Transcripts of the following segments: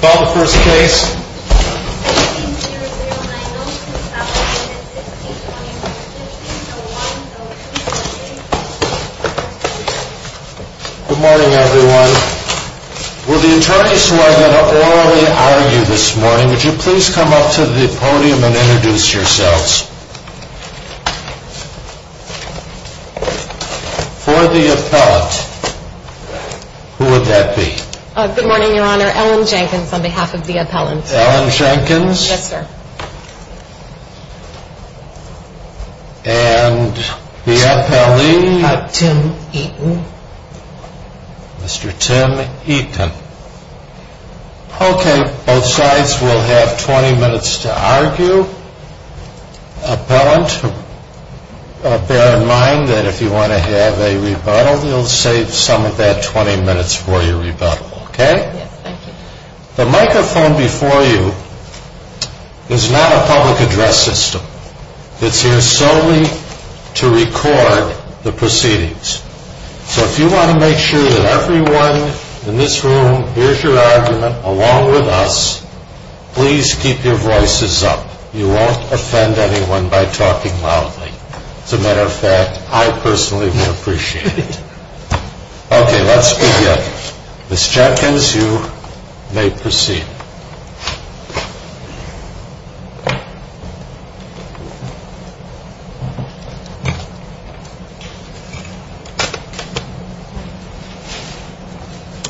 Call the first case. Good morning, everyone. Will the attorneys who are going to orally hire you this morning, would you please come up to the podium and introduce yourselves. For the appellant, who would that be? Good morning, Your Honor. Ellen Jenkins on behalf of the appellant. Ellen Jenkins? Yes, sir. And the appellee? Tim Eaton. Mr. Tim Eaton. Okay, both sides will have 20 minutes to argue. For you, appellant, bear in mind that if you want to have a rebuttal, you'll save some of that 20 minutes for your rebuttal, okay? Yes, thank you. The microphone before you is not a public address system. It's here solely to record the proceedings. So if you want to make sure that everyone in this room hears your argument along with us, please keep your voices up. You won't offend anyone by talking loudly. As a matter of fact, I personally would appreciate it. Okay, let's begin. Ms. Jenkins, you may proceed.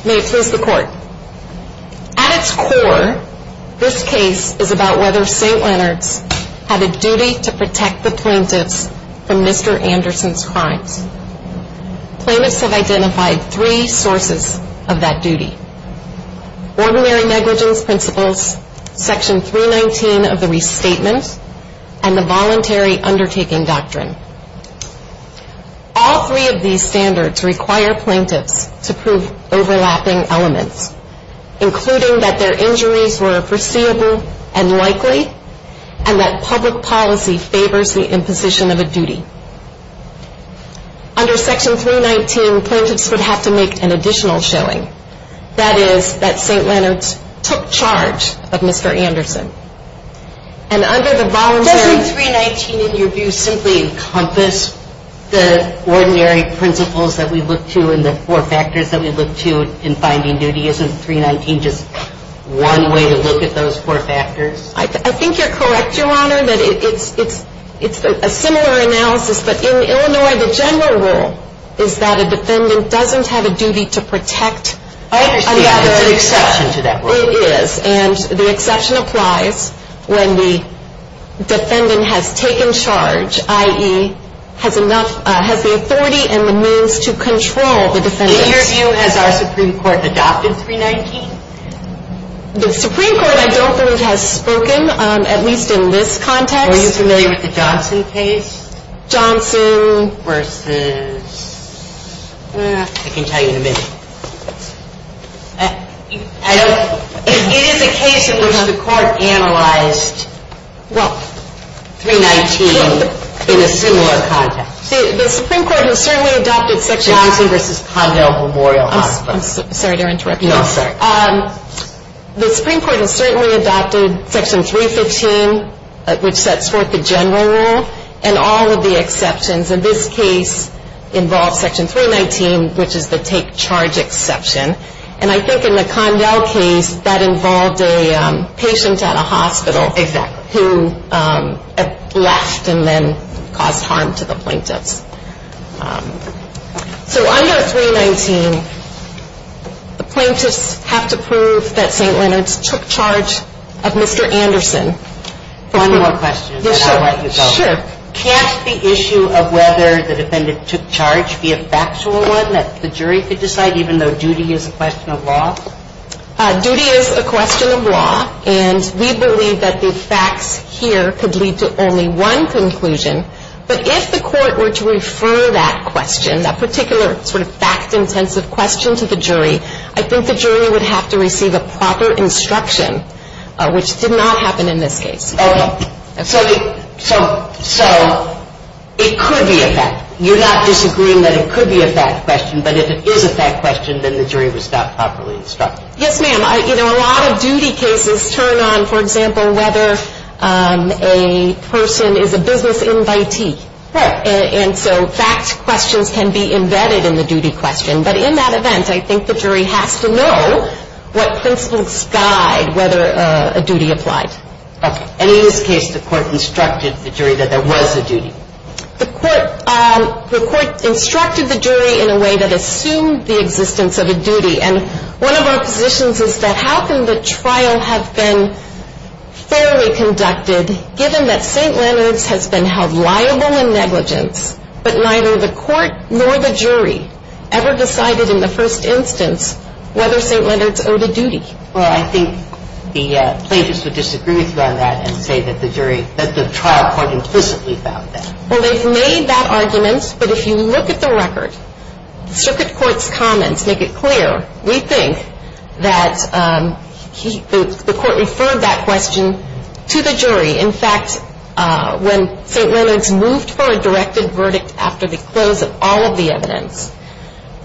May it please the Court. At its core, this case is about whether St. Leonard's had a duty to protect the plaintiffs from Mr. Anderson's crimes. Plaintiffs have identified three sources of that duty. Ordinary negligence principles, section 319 of the restatement, and the voluntary undertaking doctrine. All three of these standards require plaintiffs to prove overlapping elements, including that their injuries were foreseeable and likely, and that public policy favors the imposition of a duty. Under section 319, plaintiffs would have to make an additional showing, that is, that St. Leonard's took charge of Mr. Anderson. Doesn't 319, in your view, simply encompass the ordinary principles that we look to and the four factors that we look to in finding duty? Isn't 319 just one way to look at those four factors? I think you're correct, Your Honor, that it's a similar analysis. But in Illinois, the general rule is that a defendant doesn't have a duty to protect another. I understand, but there's an exception to that rule. It is, and the exception applies when the defendant has taken charge, i.e., has the authority and the means to control the defendant. In your view, has our Supreme Court adopted 319? The Supreme Court, I don't believe, has spoken, at least in this context. Are you familiar with the Johnson case? Johnson. Versus, I can tell you in a minute. It is a case in which the court analyzed 319 in a similar context. The Supreme Court has certainly adopted section 315. Johnson versus Condell Memorial Hospital. I'm sorry to interrupt you. No, I'm sorry. The Supreme Court has certainly adopted section 315, which sets forth the general rule, and all of the exceptions. And this case involves section 319, which is the take charge exception. And I think in the Condell case, that involved a patient at a hospital. Exactly. Who left and then caused harm to the plaintiffs. So under 319, the plaintiffs have to prove that St. Leonard's took charge of Mr. Anderson. One more question, and then I'll let you go. Sure. Can't the issue of whether the defendant took charge be a factual one that the jury could decide, even though duty is a question of law? Duty is a question of law, and we believe that the facts here could lead to only one conclusion. But if the court were to refer that question, that particular sort of fact-intensive question to the jury, I think the jury would have to receive a proper instruction, which did not happen in this case. Okay. So it could be a fact. You're not disagreeing that it could be a fact question, but if it is a fact question, then the jury would stop properly instructing. Yes, ma'am. You know, a lot of duty cases turn on, for example, whether a person is a business invitee. Right. And so fact questions can be embedded in the duty question. But in that event, I think the jury has to know what principles guide whether a duty applied. Okay. And in this case, the court instructed the jury that there was a duty. The court instructed the jury in a way that assumed the existence of a duty, and one of our positions is that how can the trial have been fairly conducted, given that St. Leonard's has been held liable in negligence, but neither the court nor the jury ever decided in the first instance whether St. Leonard's owed a duty? Well, I think the plaintiffs would disagree with you on that and say that the jury, that the trial quite implicitly found that. Well, they've made that argument, but if you look at the record, the circuit court's comments make it clear. We think that the court referred that question to the jury. In fact, when St. Leonard's moved for a directed verdict after the close of all of the evidence,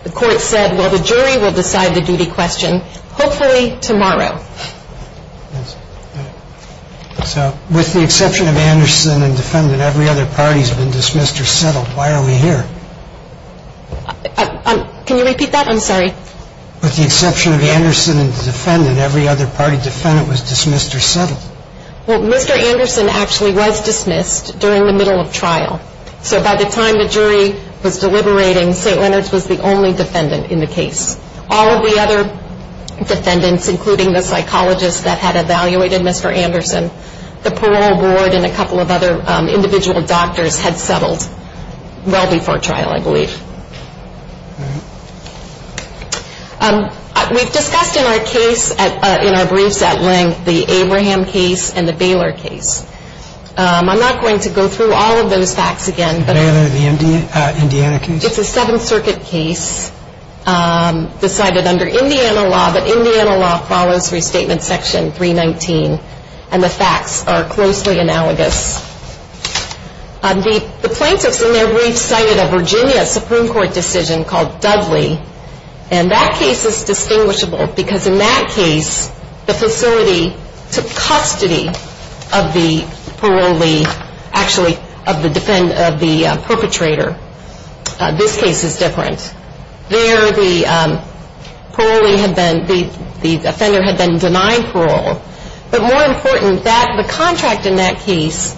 the court said, well, the jury will decide the duty question, hopefully tomorrow. So with the exception of Anderson and defendant, every other party's been dismissed or settled. Why are we here? Can you repeat that? I'm sorry. With the exception of Anderson and defendant, every other party defendant was dismissed or settled. Well, Mr. Anderson actually was dismissed during the middle of trial. So by the time the jury was deliberating, St. Leonard's was the only defendant in the case. All of the other defendants, including the psychologist that had evaluated Mr. Anderson, the parole board and a couple of other individual doctors had settled well before trial, I believe. We've discussed in our briefs at length the Abraham case and the Baylor case. I'm not going to go through all of those facts again. The Baylor and the Indiana case? It's a Seventh Circuit case decided under Indiana law, but Indiana law follows Restatement Section 319, and the facts are closely analogous. The plaintiffs in their briefs cited a Virginia Supreme Court decision called Dudley, and that case is distinguishable because in that case the facility took custody of the parolee, actually of the perpetrator. This case is different. There the parolee had been, the offender had been denied parole. But more important, the contract in that case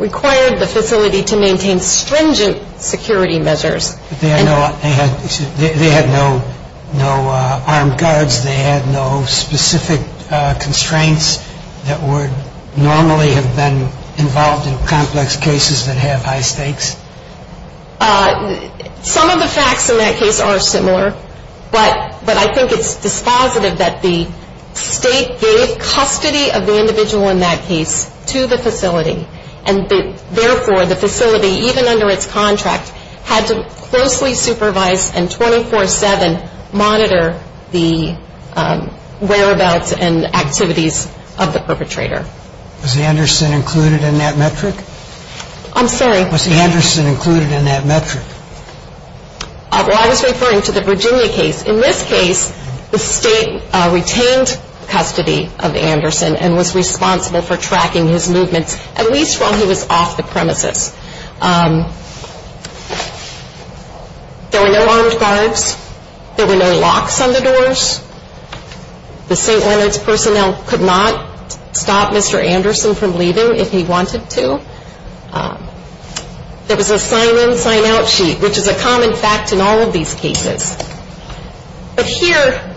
required the facility to maintain stringent security measures. They had no armed guards. They had no specific constraints that would normally have been involved in complex cases that have high stakes. Some of the facts in that case are similar, but I think it's dispositive that the state gave custody of the individual in that case to the facility, and therefore the facility, even under its contract, had to closely supervise and 24-7 monitor the whereabouts and activities of the perpetrator. Was Anderson included in that metric? I'm sorry? Was Anderson included in that metric? Well, I was referring to the Virginia case. In this case, the state retained custody of Anderson and was responsible for tracking his movements, at least while he was off the premises. There were no armed guards. There were no locks on the doors. The St. Leonard's personnel could not stop Mr. Anderson from leaving if he wanted to. There was a sign-in, sign-out sheet, which is a common fact in all of these cases. But here,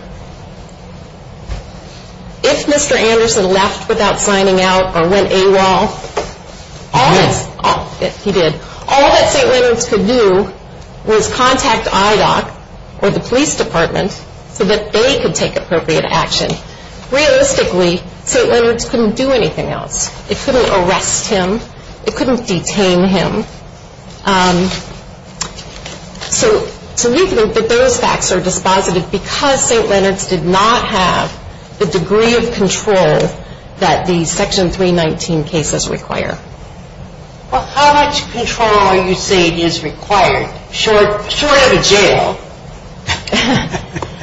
if Mr. Anderson left without signing out or went AWOL, all that St. Leonard's could do was contact IDOC or the police department so that they could take appropriate action. Realistically, St. Leonard's couldn't do anything else. It couldn't arrest him. It couldn't detain him. So we think that those facts are dispositive because St. Leonard's did not have the degree of control that the Section 319 cases require. Well, how much control are you saying is required? Short of a jail,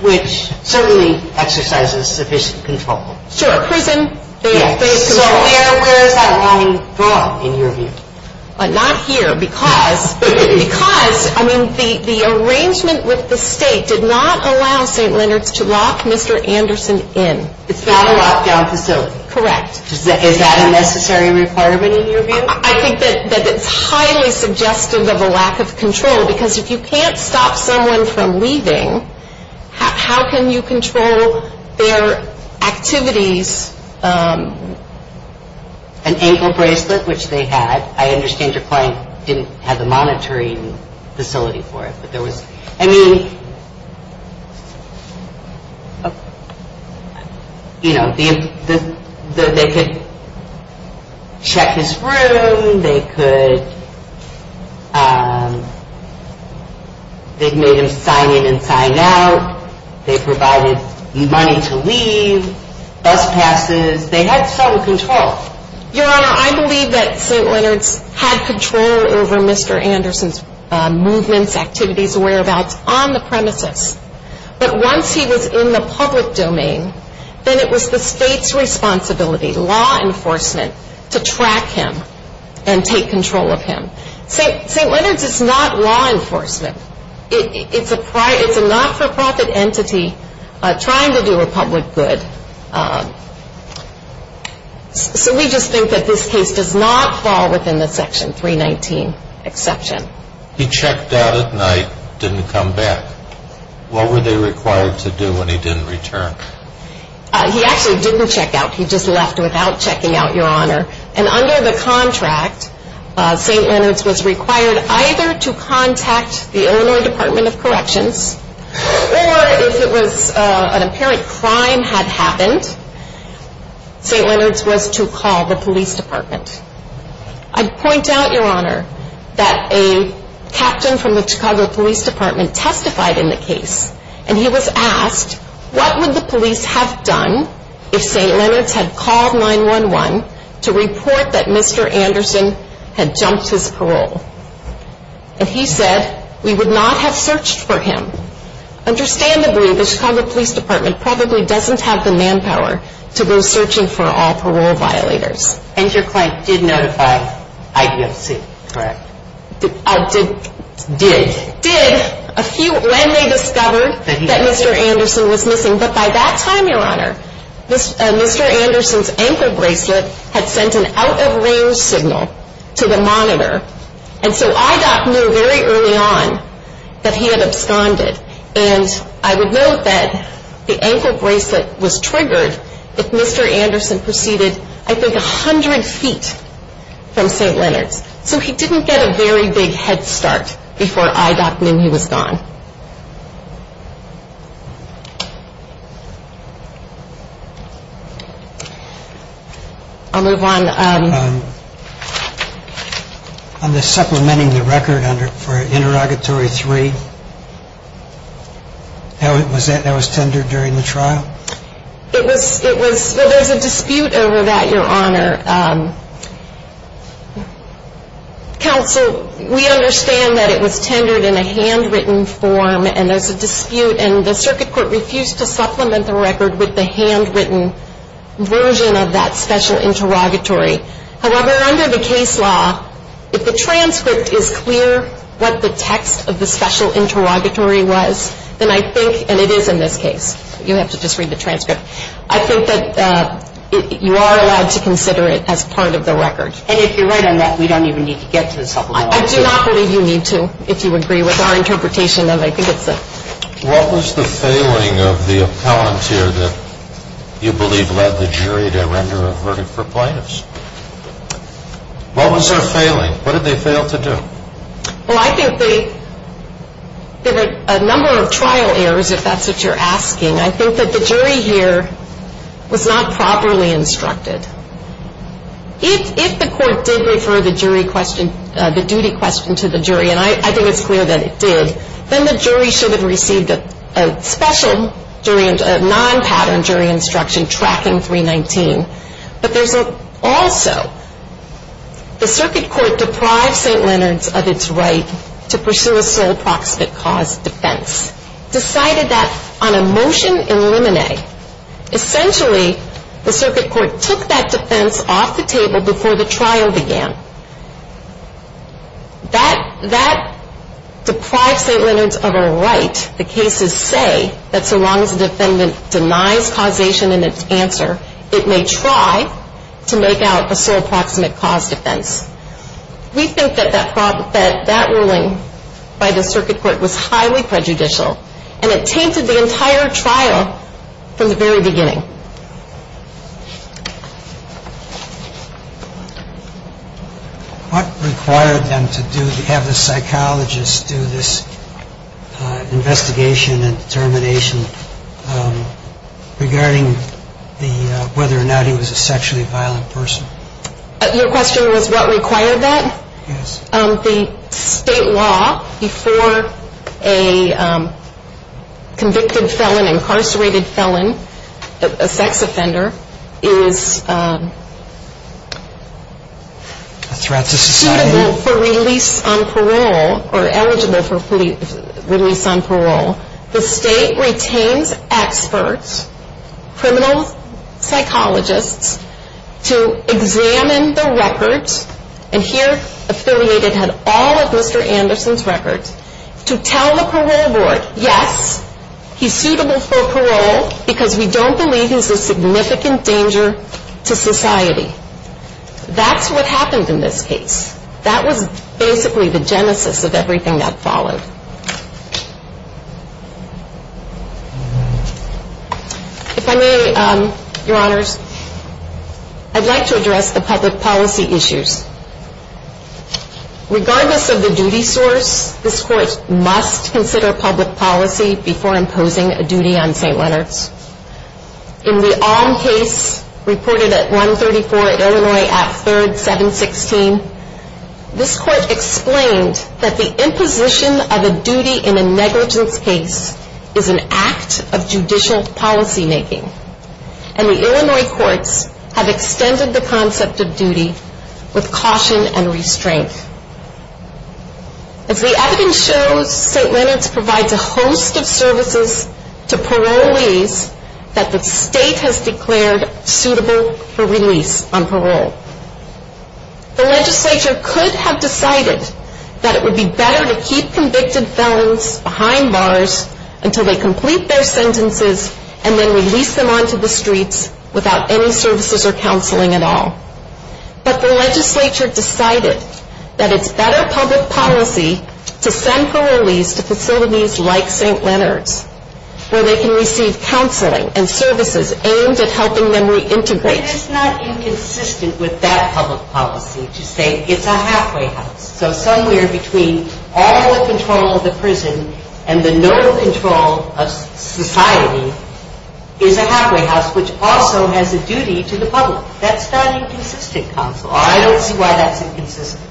which certainly exercises sufficient control. Sure. Prison, they have control. So where is that line drawn, in your view? Not here because the arrangement with the state did not allow St. Leonard's to lock Mr. Anderson in. It's not a lockdown facility. Correct. Is that a necessary requirement in your view? I think that it's highly suggestive of a lack of control because if you can't stop someone from leaving, how can you control their activities? There was an ankle bracelet, which they had. I understand your client didn't have the monitoring facility for it. I mean, you know, they could check his room. They made him sign in and sign out. They provided money to leave. Bus passes. They had some control. Your Honor, I believe that St. Leonard's had control over Mr. Anderson's movements, activities, whereabouts on the premises. But once he was in the public domain, then it was the state's responsibility, law enforcement, to track him and take control of him. St. Leonard's is not law enforcement. It's a not-for-profit entity trying to do a public good. So we just think that this case does not fall within the Section 319 exception. He checked out at night, didn't come back. What were they required to do when he didn't return? He actually didn't check out. He just left without checking out, Your Honor. And under the contract, St. Leonard's was required either to contact the Illinois Department of Corrections, or if it was an apparent crime had happened, St. Leonard's was to call the police department. I'd point out, Your Honor, that a captain from the Chicago Police Department testified in the case, and he was asked, what would the police have done if St. Leonard's had called 911 to report that Mr. Anderson had jumped his parole? And he said, we would not have searched for him. Understandably, the Chicago Police Department probably doesn't have the manpower to go searching for all parole violators. And your client did notify IDFC, correct? Did. Did. Did, when they discovered that Mr. Anderson was missing. But by that time, Your Honor, Mr. Anderson's ankle bracelet had sent an out-of-range signal to the monitor. And so IDOC knew very early on that he had absconded. And I would note that the ankle bracelet was triggered if Mr. Anderson proceeded, I think, 100 feet from St. Leonard's. So he didn't get a very big head start before IDOC knew he was gone. I'll move on. On the supplementing the record for interrogatory three, that was tendered during the trial? It was, it was, well, there's a dispute over that, Your Honor. Counsel, we understand that it was tendered in a handwritten form, and there's a dispute. And the circuit court refused to supplement the record with the handwritten version of that special interrogatory. However, under the case law, if the transcript is clear what the text of the special interrogatory was, then I think, and it is in this case. You have to just read the transcript. I think that you are allowed to consider it as part of the record. And if you're right on that, we don't even need to get to the supplement. I do not believe you need to, if you agree with our interpretation. And I think it's a... What was the failing of the appellant here that you believe led the jury to render a verdict for plaintiffs? What was their failing? What did they fail to do? Well, I think they, there were a number of trial errors, if that's what you're asking. I think that the jury here was not properly instructed. If the court did refer the jury question, the duty question to the jury, and I think it's clear that it did, then the jury should have received a special jury, a non-pattern jury instruction tracking 319. But there's also, the circuit court deprived St. Leonard's of its right to pursue a sole proximate cause defense. Decided that on a motion in limine, essentially the circuit court took that defense off the table before the trial began. That deprived St. Leonard's of a right. And as the court did not approve the case, the court then denied the defendant a sole proximate cause defense. We think that the court, the cases say that so long as the defendant denies causation in its answer, it may try to make out a sole proximate cause defense. We think that that ruling by the circuit court was highly prejudicial, and it tainted the entire trial from the very beginning. What required them to have the psychologist do this investigation and determination regarding whether or not he was a sexually violent person? Your question was what required that? Yes. The state law before a convicted felon, incarcerated felon, a sex offender, is suitable for release on parole or eligible for release on parole. The state retains experts, criminal psychologists, to examine the records and here affiliated had all of Mr. Anderson's records to tell the parole board, yes, he's suitable for parole because we don't believe he's a significant danger to society. That's what happened in this case. That was basically the genesis of everything that followed. If I may, Your Honors, I'd like to address the public policy issues. Regardless of the duty source, this court must consider public policy before imposing a duty on St. Leonard's. In the Alm case reported at 134 Illinois at 3rd 716, this court explained that the imposition of a duty in a negligence case is an act of judicial policy making. And the Illinois courts have extended the concept of duty with caution and restraint. As the evidence shows, St. Leonard's provides a host of services to parolees that the state has declared suitable for release on parole. The legislature could have decided that it would be better to keep convicted felons behind bars until they complete their sentences and then release them onto the streets without any services or counseling at all. But the legislature decided that it's better public policy to send parolees to facilities like St. Leonard's where they can receive counseling and services aimed at helping them reintegrate. It is not inconsistent with that public policy to say it's a halfway house. So somewhere between all the control of the prison and the normal control of society is a halfway house which also has a duty to the public. That's not inconsistent counsel. I don't see why that's inconsistent.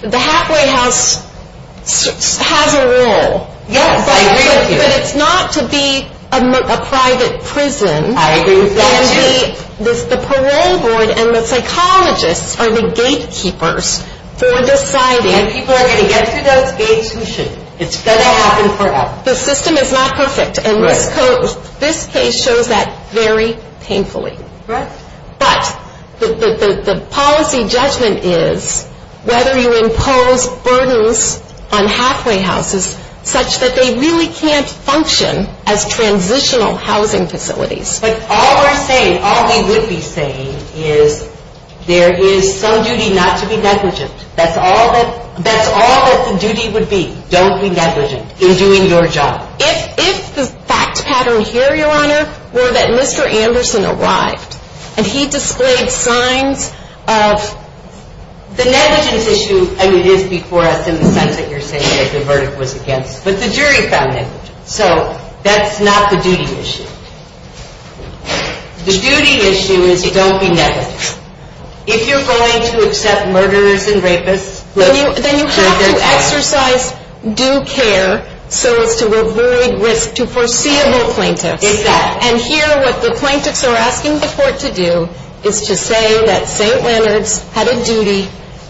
The halfway house has a role. Yes, I agree with you. But it's not to be a private prison. I agree with that too. The parole board and the psychologists are the gatekeepers for deciding. And people are going to get through those gates who shouldn't. It's going to happen forever. The system is not perfect. And this case shows that very painfully. But the policy judgment is whether you impose burdens on halfway houses such that they really can't function as transitional housing facilities. But all we're saying, all we would be saying is there is some duty not to be negligent. That's all that the duty would be. Don't be negligent in doing your job. If the fact pattern here, Your Honor, were that Mr. Anderson arrived and he displayed signs of the negligence issue, and it is before us in the sense that you're saying that the verdict was against, but the jury found negligence. So that's not the duty issue. The duty issue is don't be negligent. If you're going to accept murderers and rapists, let them do their job. Then you have to exercise due care so as to avoid risk to foreseeable plaintiffs. Exactly. And here what the plaintiffs are asking the court to do is to say that St. Leonard's had a duty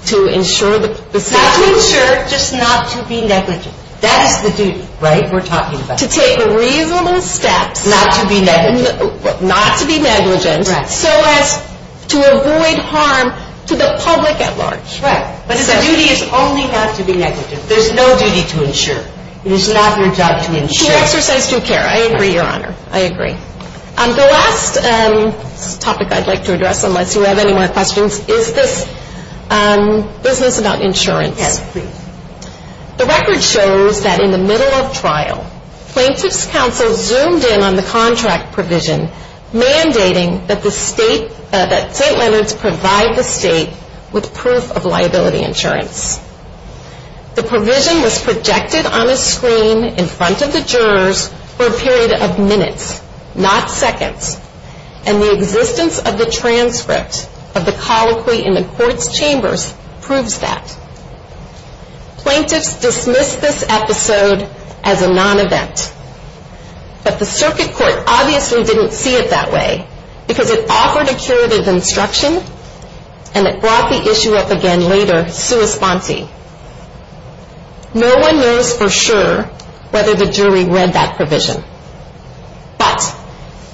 to ensure the safety. Not to ensure, just not to be negligent. That is the duty, right, we're talking about. To take reasonable steps. Not to be negligent. Not to be negligent. Right. So as to avoid harm to the public at large. Right. But the duty is only not to be negligent. There's no duty to ensure. It is not your job to ensure. To exercise due care. I agree, Your Honor. I agree. The last topic I'd like to address, unless you have any more questions, is this business about insurance. Yes, please. The record shows that in the middle of trial, plaintiffs' counsel zoomed in on the contract provision mandating that St. Leonard's provide the state with proof of liability insurance. The provision was projected on a screen in front of the jurors for a period of minutes, not seconds. And the existence of the transcript of the colloquy in the court's chambers proves that. Plaintiffs dismissed this episode as a non-event. But the circuit court obviously didn't see it that way because it offered a curative instruction and it brought the issue up again later sua sponsi. No one knows for sure whether the jury read that provision. But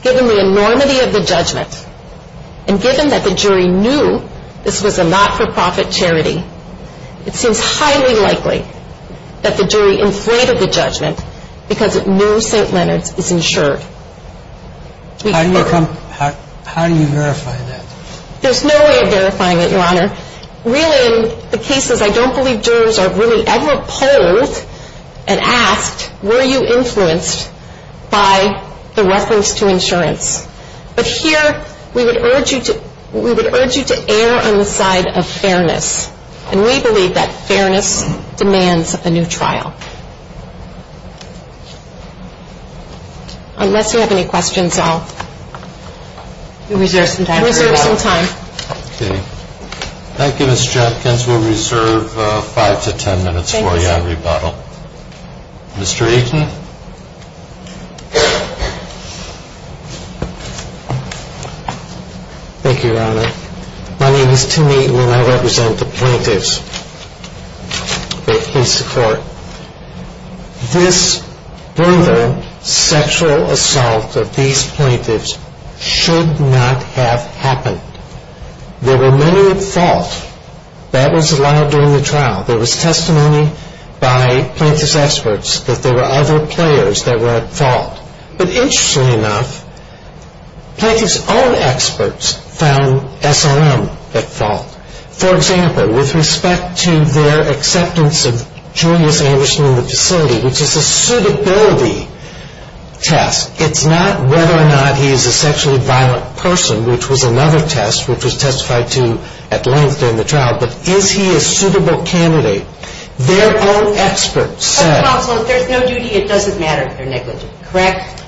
given the enormity of the judgment and given that the jury knew this was a not-for-profit charity, it seems highly likely that the jury inflated the judgment because it knew St. Leonard's is insured. How do you verify that? There's no way of verifying it, Your Honor. Really, in the cases, I don't believe jurors are really ever polled and asked were you influenced by the reference to insurance. But here we would urge you to err on the side of fairness. And we believe that fairness demands a new trial. Thank you, Mr. Jenkins. We'll reserve five to ten minutes for you on rebuttal. Mr. Aitken. Thank you, Your Honor. My name is Tim Aitken and I represent the plaintiffs. Please support. This brutal sexual assault of these plaintiffs should not have happened. There were many at fault. That was allowed during the trial. There was testimony by plaintiff's experts that there were other players that were at fault. But interestingly enough, plaintiff's own experts found SRM at fault. For example, with respect to their acceptance of Julius Anderson in the facility, which is a suitability test, it's not whether or not he is a sexually violent person, which was another test which was testified to at length during the trial, but is he a suitable candidate. Their own experts said. Counsel, if there's no duty, it doesn't matter if they're negligent, correct?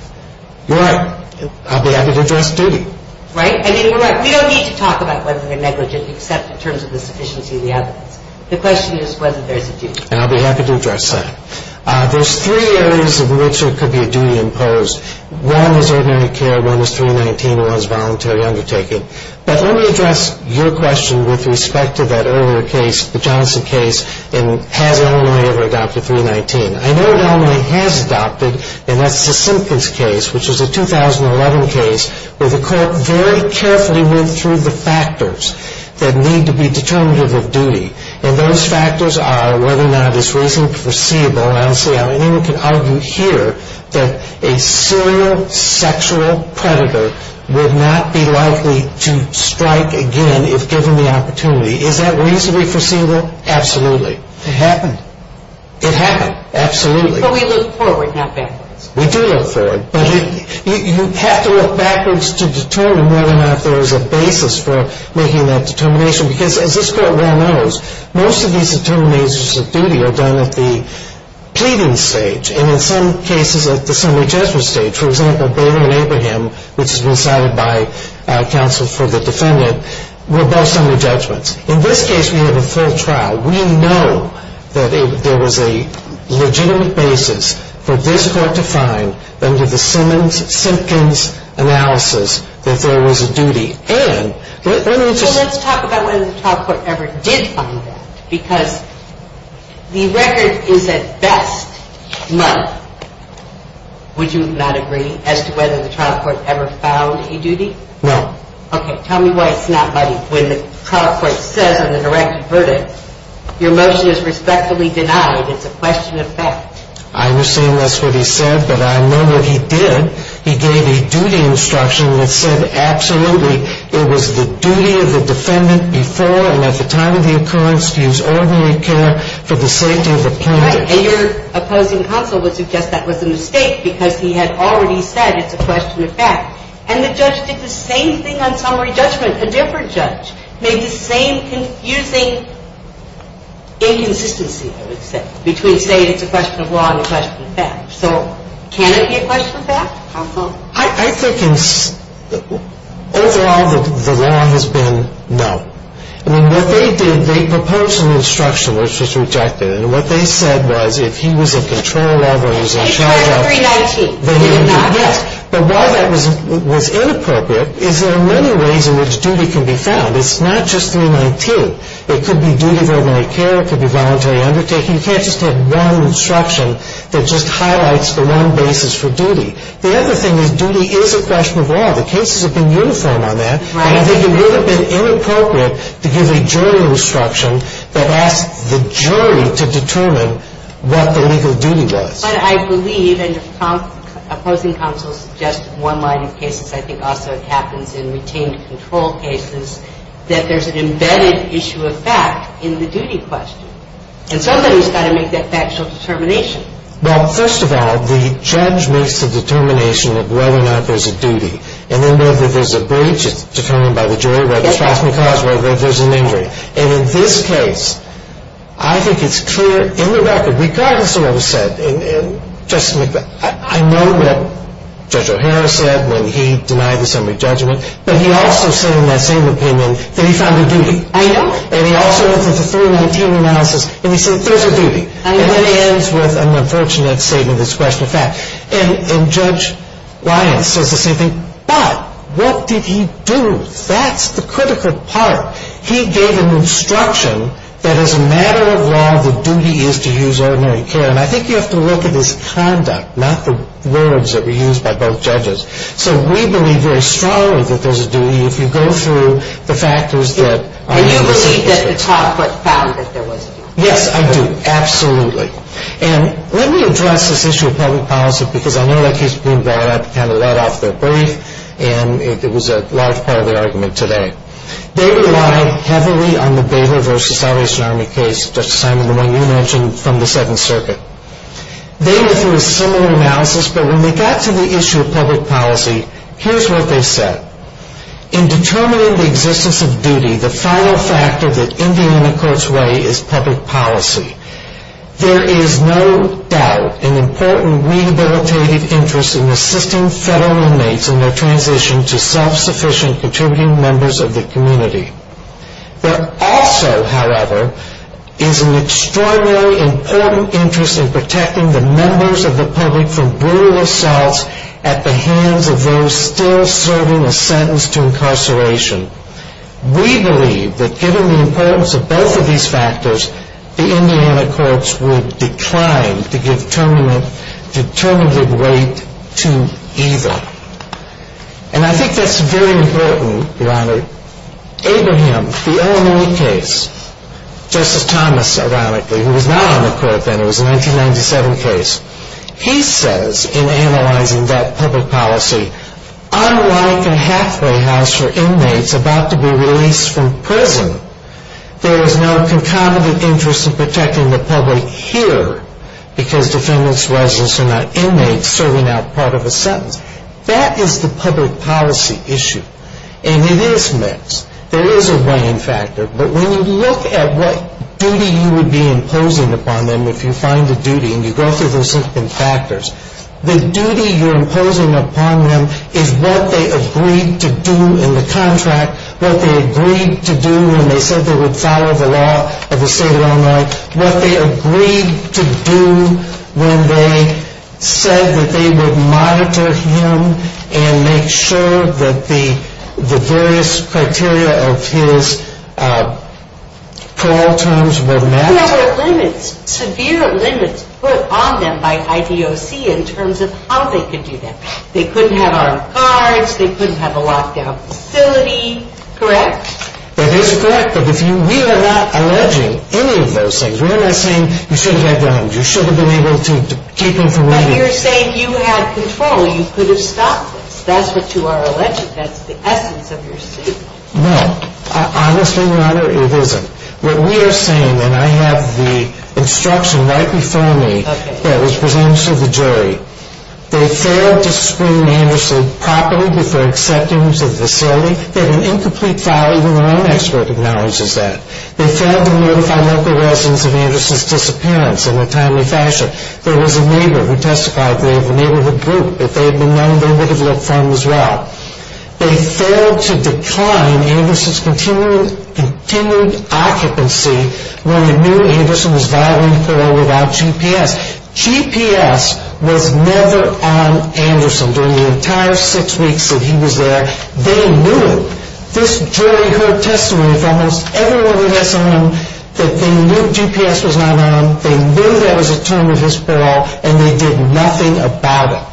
You're right. I'll be happy to address duty. Right? We don't need to talk about whether they're negligent except in terms of the sufficiency of the evidence. The question is whether there's a duty. And I'll be happy to address that. There's three areas in which there could be a duty imposed. One is ordinary care, one is 319, and one is voluntary undertaking. But let me address your question with respect to that earlier case, the Johnson case, and has Illinois ever adopted 319. I know Illinois has adopted, and that's the Simpkins case, which is a 2011 case where the court very carefully went through the factors that need to be determinative of duty. And those factors are whether or not it's reasonably foreseeable, and I don't see how anyone can argue here, that a serial sexual predator would not be likely to strike again if given the opportunity. Is that reasonably foreseeable? Absolutely. It happened. It happened. Absolutely. But we look forward, not backwards. We do look forward. But you have to look backwards to determine whether or not there is a basis for making that determination, because as this court well knows, most of these determinations of duty are done at the pleading stage, and in some cases at the summary judgment stage. For example, Baylor and Abraham, which has been cited by counsel for the defendant, were both summary judgments. In this case, we have a full trial. We know that there was a legitimate basis for this court to find under the Simpkins analysis that there was a duty. Let's talk about whether the trial court ever did find that, because the record is at best money. Would you not agree as to whether the trial court ever found a duty? No. Okay. Tell me why it's not money. When the trial court says in the directed verdict, your motion is respectfully denied. It's a question of fact. I understand that's what he said, but I know what he did. He gave a duty instruction that said absolutely it was the duty of the defendant before and at the time of the occurrence to use ordinary care for the safety of the plaintiff. Right. And your opposing counsel would suggest that was a mistake because he had already said it's a question of fact. And the judge did the same thing on summary judgment, a different judge. Made the same confusing inconsistency, I would say, between saying it's a question of law and a question of fact. So can it be a question of fact? I think overall the law has been no. I mean, what they did, they proposed an instruction which was rejected. And what they said was if he was in control of it or he was in charge of it. He charged 319. He did not? Yes. But why that was inappropriate is there are many ways in which duty can be found. It's not just 319. It could be duty of ordinary care. It could be voluntary undertaking. You can't just have one instruction that just highlights the one basis for duty. The other thing is duty is a question of law. The cases have been uniform on that. Right. And I think it would have been inappropriate to give a jury instruction that asked the jury to determine what the legal duty was. But I believe, and your opposing counsel suggested one line of cases, I think also happens in retained control cases, that there's an embedded issue of fact in the duty question. And somebody's got to make that factual determination. Well, first of all, the judge makes the determination of whether or not there's a duty. And then whether there's a breach, it's determined by the jury, whether it's possibly caused, whether there's an injury. And in this case, I think it's clear in the record, regardless of what was said, and Justice McBeth, I know what Judge O'Hara said when he denied the summary judgment, but he also said in that same opinion that he found a duty. I know. And he also went through the 319 analysis and he said there's a duty. I know. And that ends with an unfortunate statement that's a question of fact. And Judge Lyons says the same thing. But what did he do? That's the critical part. He gave an instruction that as a matter of law, the duty is to use ordinary care. And I think you have to look at his conduct, not the words that were used by both judges. So we believe very strongly that there's a duty if you go through the factors that are in this case. And you believe that the top foot found that there was a duty. Yes, I do. Absolutely. And let me address this issue of public policy, because I know that case has been brought up, kind of led off the brief, and it was a large part of the argument today. They relied heavily on the Baylor v. Salvation Army case, Justice Simon, the one you mentioned from the Seventh Circuit. They went through a similar analysis, but when they got to the issue of public policy, here's what they said. In determining the existence of duty, the final factor that Indiana courts weigh is public policy. There is no doubt an important rehabilitative interest in assisting federal inmates in their transition to self-sufficient contributing members of the community. There also, however, is an extraordinarily important interest in protecting the members of the public from brutal assaults at the hands of those still serving a sentence to incarceration. We believe that given the importance of both of these factors, the Indiana courts would be trying to give determinative weight to either. And I think that's very important, Your Honor. Abraham, the Illinois case, Justice Thomas, ironically, who was not on the court then. It was a 1997 case. He says in analyzing that public policy, unlike a halfway house for inmates about to be released from prison, there is no concomitant interest in protecting the public here because defendants' residents are not inmates serving out part of a sentence. That is the public policy issue, and it is mixed. There is a weighing factor, but when you look at what duty you would be imposing upon them, if you find a duty and you go through those different factors, the duty you're imposing upon them is what they agreed to do in the contract, what they agreed to do when they said they would follow the law of the state of Illinois, what they agreed to do when they said that they would monitor him and make sure that the various criteria of his parole terms were met. There were limits, severe limits, put on them by IDOC in terms of how they could do that. They couldn't have armed guards. They couldn't have a locked-down facility, correct? That is correct, but we are not alleging any of those things. We are not saying you shouldn't have done it. You shouldn't have been able to keep him from leaving. But you're saying you had control. You could have stopped this. That's what you are alleging. That's the essence of your statement. No, honestly, Your Honor, it isn't. What we are saying, and I have the instruction right before me that was presented to the jury, they failed to screen Anderson properly before accepting him to the facility. They had an incomplete file. Even their own expert acknowledges that. They failed to notify local residents of Anderson's disappearance in a timely fashion. There was a neighbor who testified. They have a neighborhood group that they had known they would have looked for him as well. They failed to decline Anderson's continued occupancy when they knew Anderson was violating parole without GPS. GPS was never on Anderson during the entire six weeks that he was there. They knew it. This jury heard testimony from almost everyone we had seen that they knew GPS was not on. They knew that was a term of his parole, and they did nothing about it.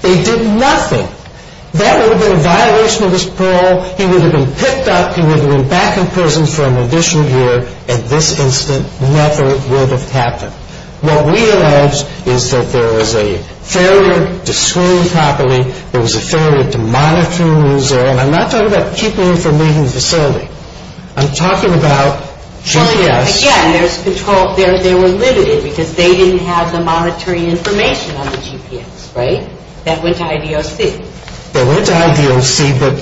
They did nothing. That would have been a violation of his parole. He would have been picked up. He would have been back in prison for an additional year. At this instant, nothing would have happened. What we allege is that there was a failure to screen properly. There was a failure to monitor when he was there. And I'm not talking about keeping him from leaving the facility. I'm talking about GPS. Again, there was control. They were limited because they didn't have the monitoring information on the GPS, right? That went to IDOC. It went to IDOC, but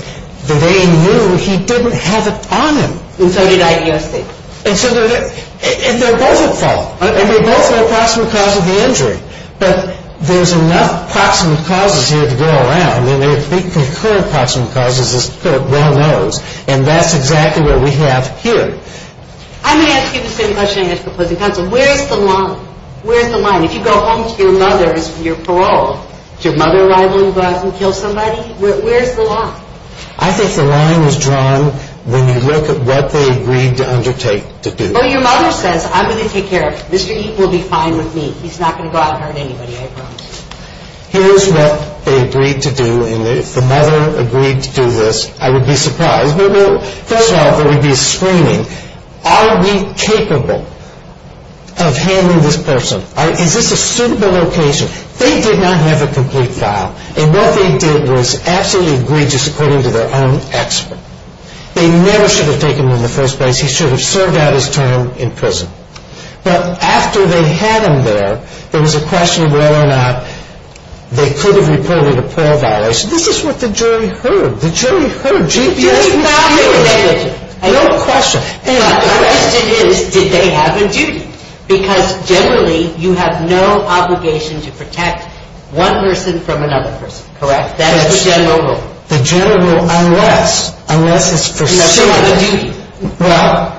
they knew he didn't have it on him. And so did IDOC. And so they're both at fault. And they're both the approximate cause of the injury. But there's enough approximate causes here to go around. And I think the current approximate cause is this clerk well knows. And that's exactly what we have here. I'm going to ask you the same question I asked the opposing counsel. Where's the line? Where's the line? If you go home to your mother's and you're paroled, is your mother liable to go out and kill somebody? Where's the line? I think the line is drawn when you look at what they agreed to undertake to do. Well, your mother says, I'm going to take care of it. Mr. Eaton will be fine with me. He's not going to go out and hurt anybody, I promise. Here's what they agreed to do. And if the mother agreed to do this, I would be surprised. First off, there would be a screening. Are we capable of handling this person? Is this a suitable location? They did not have a complete file. And what they did was absolutely egregious according to their own expert. They never should have taken him in the first place. He should have served out his term in prison. But after they had him there, there was a question of whether or not they could have reported a parole violation. This is what the jury heard. The jury heard. No question. My question is did they have a duty? Because generally you have no obligation to protect one person from another person, correct? That is the general rule. The general rule unless, unless it's foreseeable. Unless you have a duty. Well,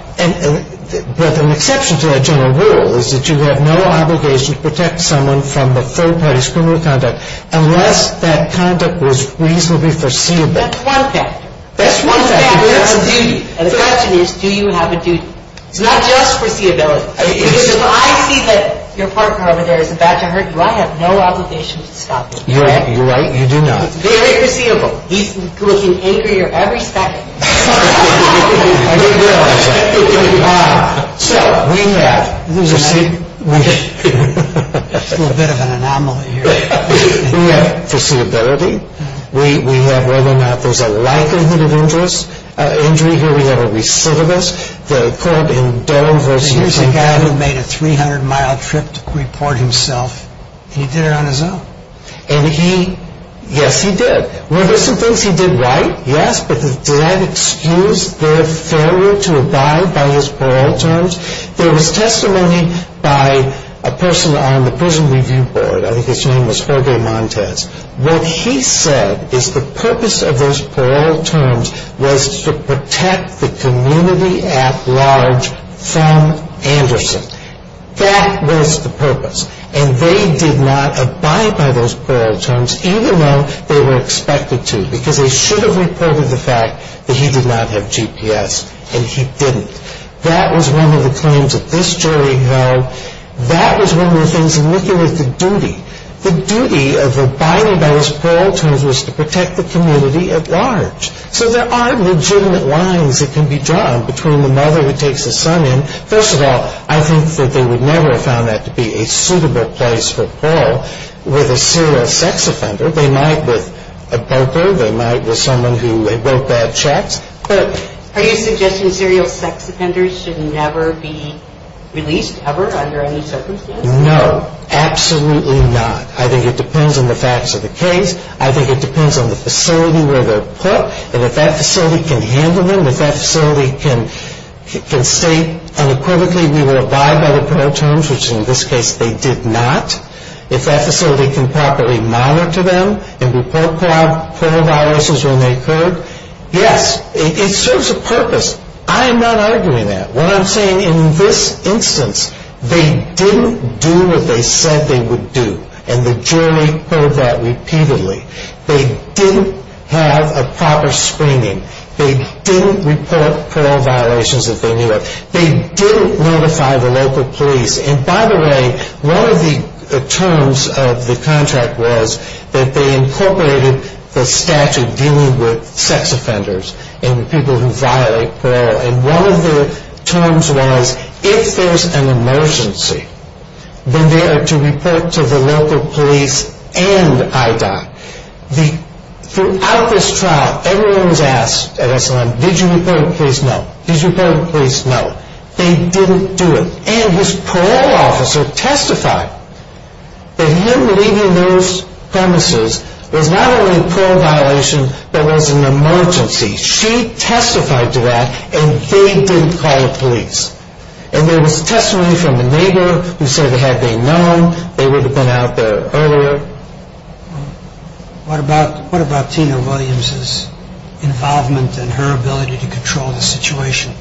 an exception to that general rule is that you have no obligation to protect someone from the third party's criminal conduct unless that conduct was reasonably foreseeable. That's one factor. That's one factor. That's a duty. And the question is do you have a duty? It's not just foreseeability. Because if I see that your partner over there is about to hurt you, I have no obligation to stop him. You're right. You do not. It's very foreseeable. He's looking angrier every second. I didn't realize that. So we have foreseeability. We have whether or not there's a likelihood of injury here. We have a recidivist. There's a guy who made a 300-mile trip to report himself, and he did it on his own. And he, yes, he did. Were there some things he did right? Yes. But did that excuse their failure to abide by his parole terms? There was testimony by a person on the Prison Review Board. I think his name was Jorge Montez. What he said is the purpose of those parole terms was to protect the community at large from Anderson. That was the purpose. And they did not abide by those parole terms, even though they were expected to, because they should have reported the fact that he did not have GPS, and he didn't. That was one of the claims that this jury held. The duty of abiding by his parole terms was to protect the community at large. So there are legitimate lines that can be drawn between the mother who takes the son in. First of all, I think that they would never have found that to be a suitable place for parole with a serial sex offender. They might with a broker. They might with someone who wrote bad checks. But are you suggesting serial sex offenders should never be released ever under any circumstances? No. Absolutely not. I think it depends on the facts of the case. I think it depends on the facility where they're put, and if that facility can handle them, if that facility can state unequivocally we will abide by the parole terms, which in this case they did not, if that facility can properly monitor them and report parole viruses when they occurred. Yes, it serves a purpose. I am not arguing that. What I'm saying in this instance, they didn't do what they said they would do, and the jury heard that repeatedly. They didn't have a proper screening. They didn't report parole violations that they knew of. They didn't notify the local police. And by the way, one of the terms of the contract was that they incorporated the statute dealing with sex offenders and the people who violate parole. And one of the terms was if there's an emergency, then they are to report to the local police and IDOC. Throughout this trial, everyone was asked at SLM, did you report to the police? No. Did you report to the police? No. They didn't do it. And this parole officer testified that him leaving those premises was not only a parole violation, but was an emergency. She testified to that, and they didn't call the police. And there was testimony from the neighbor who said had they known, they would have been out there earlier. What about Tina Williams' involvement and her ability to control the situation?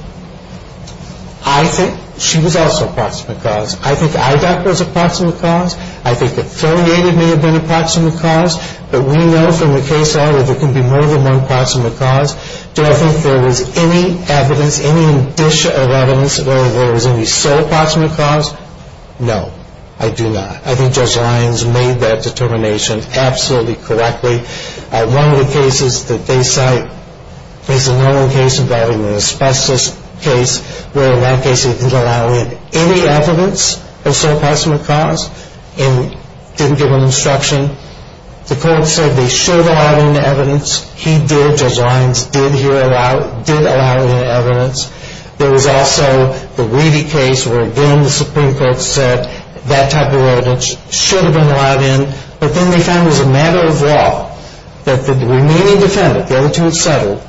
I think she was also a proximate cause. I think IDOC was a proximate cause. I think affiliated may have been a proximate cause. But we know from the case that there can be more than one proximate cause. Do I think there was any evidence, any indicia of evidence that there was any sole proximate cause? No, I do not. I think Judge Lyons made that determination absolutely correctly. One of the cases that they cite is a normal case involving an asbestos case, where in that case they didn't allow any evidence of sole proximate cause and didn't give them instruction. The court said they should allow any evidence. He did, Judge Lyons did allow any evidence. There was also the Weedy case where again the Supreme Court said that type of evidence should have been allowed in. But then they found as a matter of law that the remaining defendant, the other two had settled,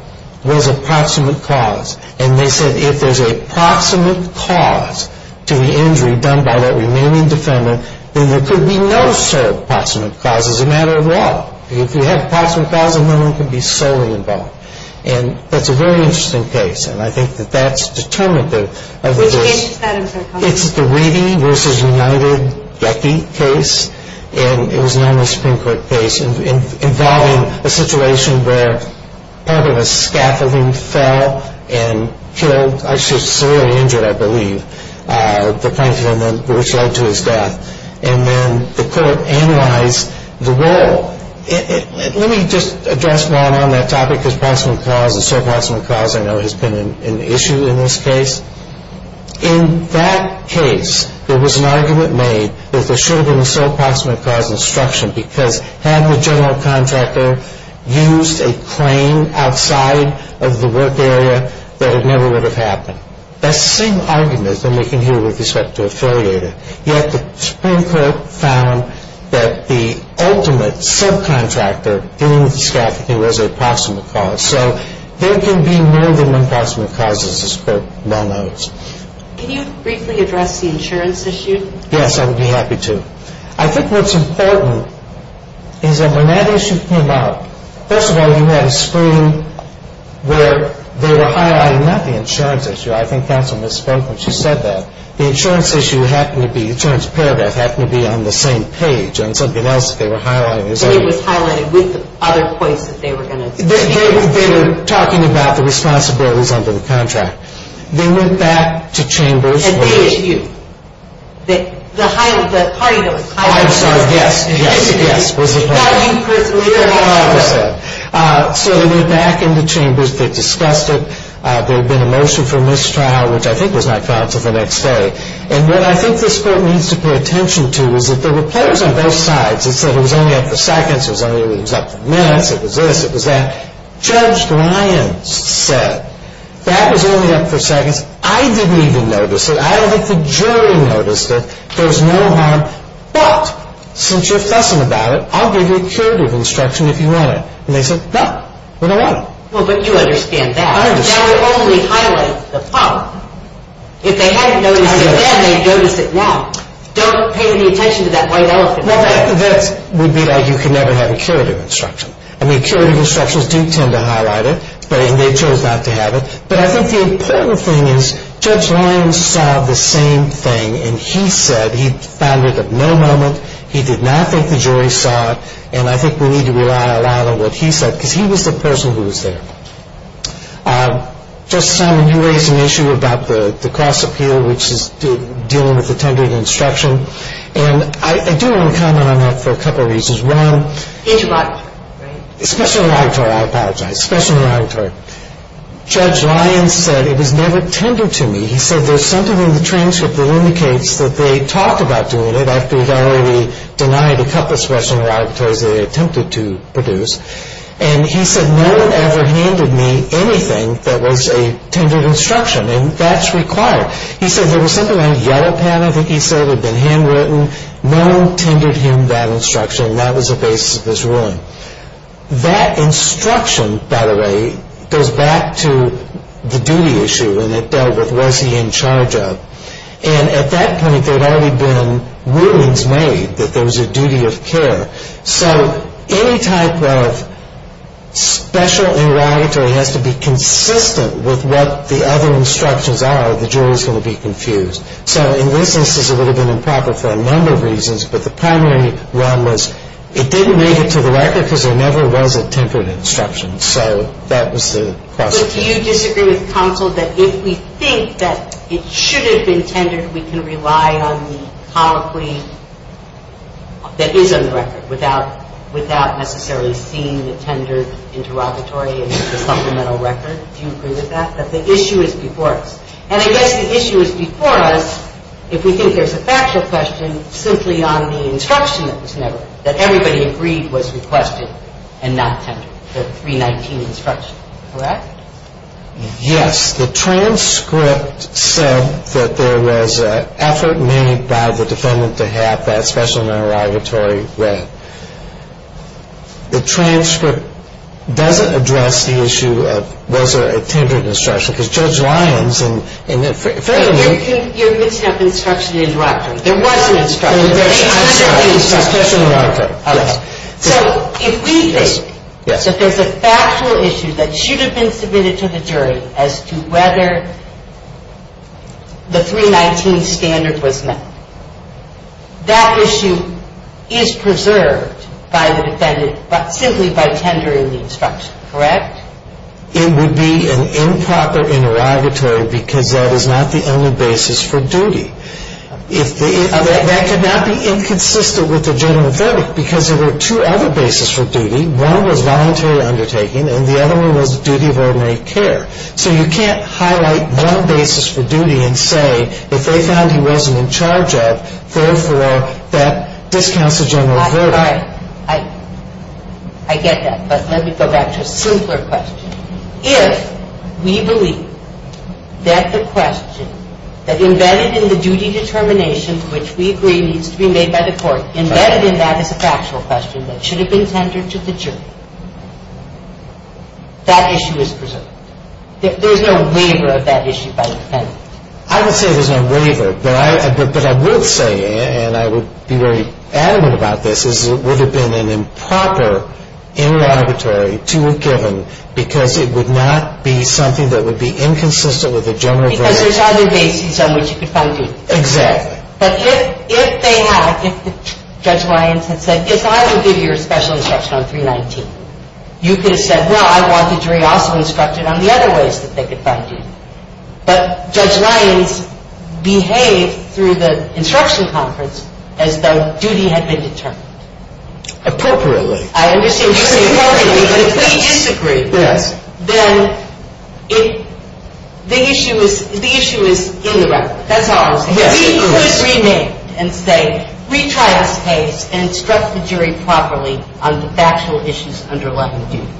was a proximate cause. And they said if there's a proximate cause to the injury done by that remaining defendant, then there could be no sole proximate cause as a matter of law. If you have a proximate cause, then no one could be solely involved. And that's a very interesting case. And I think that that's determinative of the case. Which case is that? It's the Weedy v. United-Gecki case. And it was a normal Supreme Court case involving a situation where part of a scaffolding fell and killed, actually severely injured I believe, the plaintiff which led to his death. And then the court analyzed the role. Let me just address one on that topic because proximate cause and sole proximate cause I know has been an issue in this case. In that case, there was an argument made that there should have been a sole proximate cause instruction because had the general contractor used a claim outside of the work area, that it never would have happened. That's the same argument that we can hear with respect to affiliated. Yet the Supreme Court found that the ultimate subcontractor dealing with the scaffolding was a proximate cause. So there can be more than one proximate cause as this Court well knows. Can you briefly address the insurance issue? Yes, I would be happy to. I think what's important is that when that issue came up, first of all, you had a screen where they were highlighting not the insurance issue. I think counsel misspoke when she said that. The insurance issue happened to be, the insurance paragraph happened to be on the same page on something else that they were highlighting. It was highlighted with the other points that they were going to. They were talking about the responsibilities under the contract. They went back to chambers. And they issued. The party notes. I'm sorry, yes, yes, yes, was the point. So they went back into chambers. They discussed it. There had been a motion for mistrial, which I think was not counsel the next day. And what I think this Court needs to pay attention to is that there were players on both sides. It said it was only up for seconds. It was up for minutes. It was this. It was that. Judge Lyons said that was only up for seconds. I didn't even notice it. I don't think the jury noticed it. There was no harm. But since you're fussing about it, I'll give you a curative instruction if you want it. And they said, no, we don't want it. Well, but you understand that. I understand. That would only highlight the problem. If they hadn't noticed it then, they'd notice it now. Don't pay any attention to that white elephant. Well, that would be like you could never have a curative instruction. I mean, curative instructions do tend to highlight it. And they chose not to have it. But I think the important thing is Judge Lyons saw the same thing. And he said he found it at no moment. He did not think the jury saw it. And I think we need to rely a lot on what he said because he was the person who was there. Justice Simon, you raised an issue about the cross-appeal, which is dealing with the tendered instruction. And I do want to comment on that for a couple of reasons. One. Special interrogatory. Special interrogatory. I apologize. Special interrogatory. Judge Lyons said it was never tendered to me. He said there's something in the transcript that indicates that they talked about doing it after he'd already denied a couple of special interrogatories that they attempted to produce. And he said no one ever handed me anything that was a tendered instruction. And that's required. He said there was something on a yellow pen, I think he said, that had been handwritten. No one tendered him that instruction. And that was the basis of this ruling. That instruction, by the way, goes back to the duty issue. And it dealt with was he in charge of. And at that point, there had already been rulings made that there was a duty of care. So any type of special interrogatory has to be consistent with what the other instructions are or the jury is going to be confused. So in this instance, it would have been improper for a number of reasons. But the primary one was it didn't make it to the record because there never was a tendered instruction. So that was the question. But do you disagree with counsel that if we think that it should have been tendered, that we can rely on the colloquy that is on the record without necessarily seeing the tendered interrogatory and the supplemental record? Do you agree with that? That the issue is before us. And I guess the issue is before us if we think there's a factual question simply on the instruction that was never, that everybody agreed was requested and not tendered, the 319 instruction. Correct? Yes. The transcript said that there was an effort made by the defendant to have that special interrogatory read. The transcript doesn't address the issue of was there a tendered instruction because Judge Lyons and fairly new. You're mixing up instruction and interrogatory. There was an instruction. There's a special interrogatory. So if we think that there's a factual issue that should have been submitted to the jury as to whether the 319 standard was met, that issue is preserved by the defendant simply by tendering the instruction. Correct? It would be an improper interrogatory because that is not the only basis for duty. That could not be inconsistent with the general verdict because there were two other basis for duty. One was voluntary undertaking and the other one was duty of ordinary care. So you can't highlight one basis for duty and say if they found he wasn't in charge of it, therefore that discounts the general verdict. I get that. But let me go back to a simpler question. If we believe that the question that embedded in the duty determination, which we agree needs to be made by the court, embedded in that is a factual question that should have been tendered to the jury, that issue is preserved. There's no waiver of that issue by the defendant. I would say there's no waiver, but I would say, and I would be very adamant about this, is it would have been an improper interrogatory to have given because it would not be something that would be inconsistent with the general verdict. Because there's other bases on which you could find duty. Exactly. But if they had, Judge Lyons had said, if I would give you a special instruction on 319, you could have said, well, I want the jury also instructed on the other ways that they could find duty. But Judge Lyons behaved through the instruction conference as though duty had been determined. Appropriately. I understand you say appropriately, but if we disagree, then the issue is in the record. That's all I'm saying. We could remit and say, retry this case and instruct the jury properly on the factual issues underlying duty.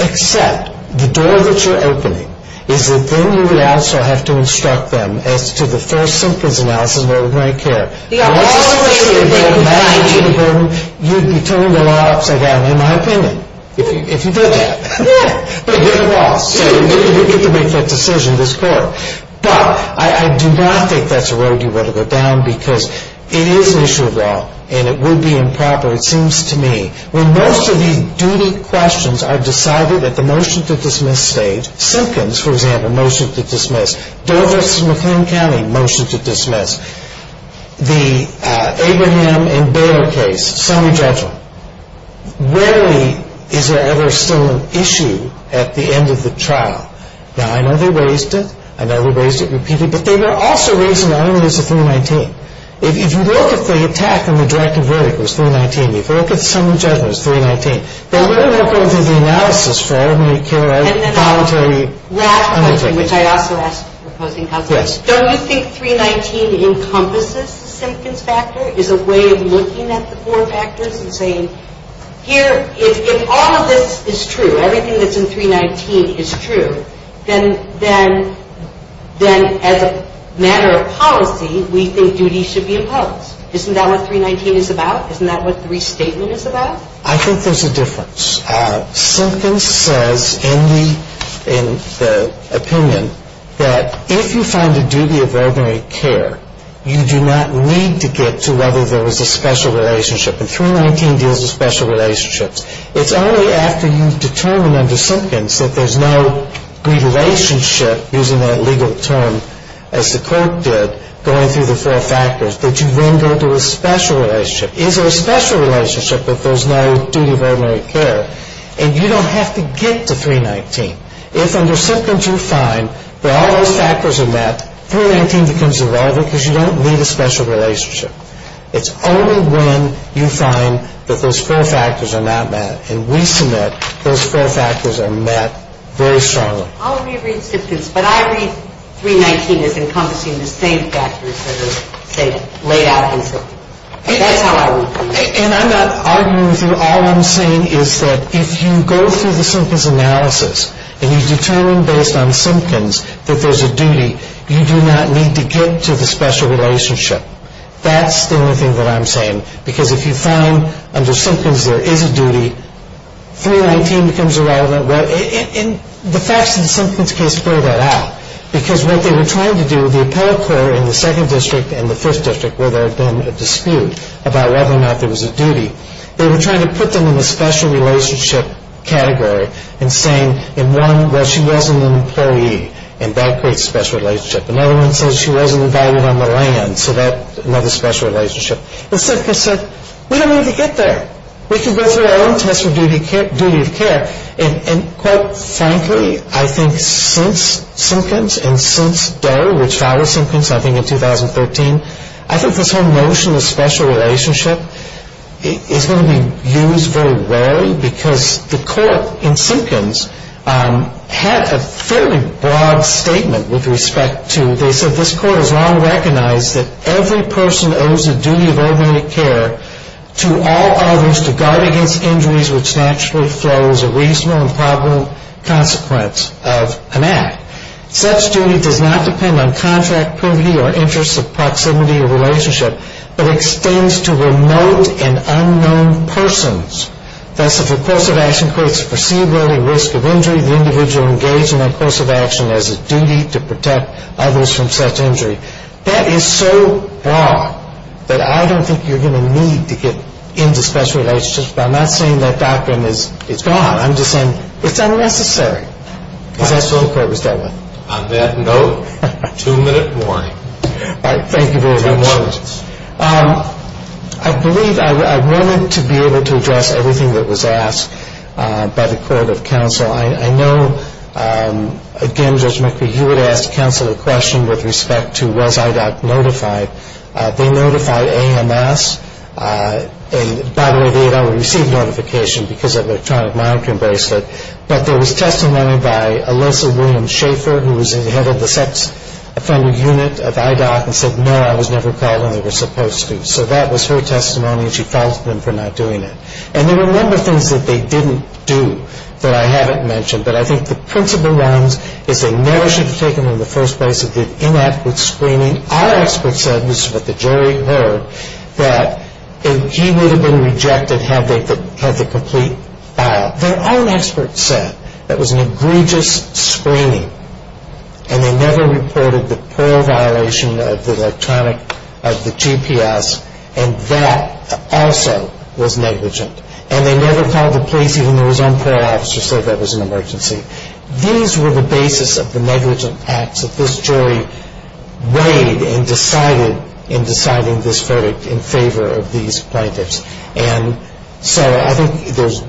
Except the door that you're opening is that then you would also have to instruct them as to the first simplest analysis of what we're going to care. The only way that they could find duty, you'd be turning the law upside down, in my opinion, if you did that. Yeah. But you're the law, so you get to make that decision, this court. But I do not think that's a road you want to go down because it is an issue of law and it would be improper, it seems to me. When most of these duty questions are decided at the motion to dismiss stage, Simpkins, for example, motion to dismiss. Doris McLean County, motion to dismiss. The Abraham and Bayer case, summary judgment. Rarely is there ever still an issue at the end of the trial. Now, I know they raised it, I know they raised it repeatedly, but they were also raising it not only as a 319. If you look at the attack on the directive verdict, it was 319. If you look at the summary judgment, it was 319. They were not going through the analysis for how many care and voluntary undertakings. Last question, which I also asked the opposing counsel. Yes. Don't you think 319 encompasses the Simpkins factor, is a way of looking at the four factors and saying, here, if all of this is true, everything that's in 319 is true, then as a matter of policy, we think duty should be imposed. Isn't that what 319 is about? Isn't that what the restatement is about? I think there's a difference. Simpkins says in the opinion that if you find a duty of ordinary care, you do not need to get to whether there was a special relationship. And 319 deals with special relationships. It's only after you determine under Simpkins that there's no relationship, using that legal term, as the court did, going through the four factors, that you then go to a special relationship. Is there a special relationship if there's no duty of ordinary care? And you don't have to get to 319. If under Simpkins you find that all those factors are met, 319 becomes irrelevant because you don't need a special relationship. It's only when you find that those four factors are not met and we submit those four factors are met very strongly. I'll reread Simpkins, but I read 319 as encompassing the same factors that are, say, laid out in Simpkins. That's how I read it. And I'm not arguing with you. All I'm saying is that if you go through the Simpkins analysis and you determine based on Simpkins that there's a duty, you do not need to get to the special relationship. That's the only thing that I'm saying, because if you found under Simpkins there is a duty, 319 becomes irrelevant. The facts in the Simpkins case bear that out because what they were trying to do with the appellate court in the 2nd District and the 5th District where there had been a dispute about whether or not there was a duty, they were trying to put them in the special relationship category and saying in one, well, she wasn't an employee, and that creates a special relationship. Another one says she wasn't invited on the land, so that's another special relationship. And Simpkins said, we don't need to get there. We can go through our own test for duty of care. And quite frankly, I think since Simpkins and since Doe, which filed with Simpkins I think in 2013, I think this whole notion of special relationship is going to be used very rarely because the court in Simpkins had a fairly broad statement with respect to, they said this court has long recognized that every person owes a duty of early care to all others to guard against injuries which naturally flows a reasonable and probable consequence of an act. Such duty does not depend on contract privity or interest of proximity or relationship, but extends to remote and unknown persons. Thus, if a course of action creates a foreseeable risk of injury, the individual engaged in that course of action has a duty to protect others from such injury. That is so broad that I don't think you're going to need to get into special relationships, but I'm not saying that doctrine is gone. I'm just saying it's unnecessary because that's what the court was dealt with. On that note, two-minute warning. All right. Thank you very much. Two minutes. I believe I wanted to be able to address everything that was asked by the court of counsel. I know, again, Judge McCree, you had asked counsel a question with respect to was IDOC notified. They notified AMS, and by the way, they had already received notification because of electronic monitoring bracelet, but there was testimony by Alyssa William Schaefer, who was the head of the sex offender unit of IDOC, and said, no, I was never called when they were supposed to. So that was her testimony, and she filed them for not doing it. And there were a number of things that they didn't do that I haven't mentioned, but I think the principal ones is they never should have taken them in the first place if they'd inept with screening. Our expert said, and this is what the jury heard, that he would have been rejected had they had the complete file. Their own expert said that was an egregious screening, and they never reported the parole violation of the GPS, and that also was negligent. And they never called the police, even though his own parole officer said that was an emergency. These were the basis of the negligent acts that this jury weighed and decided in deciding this verdict in favor of these plaintiffs. And so I think there's,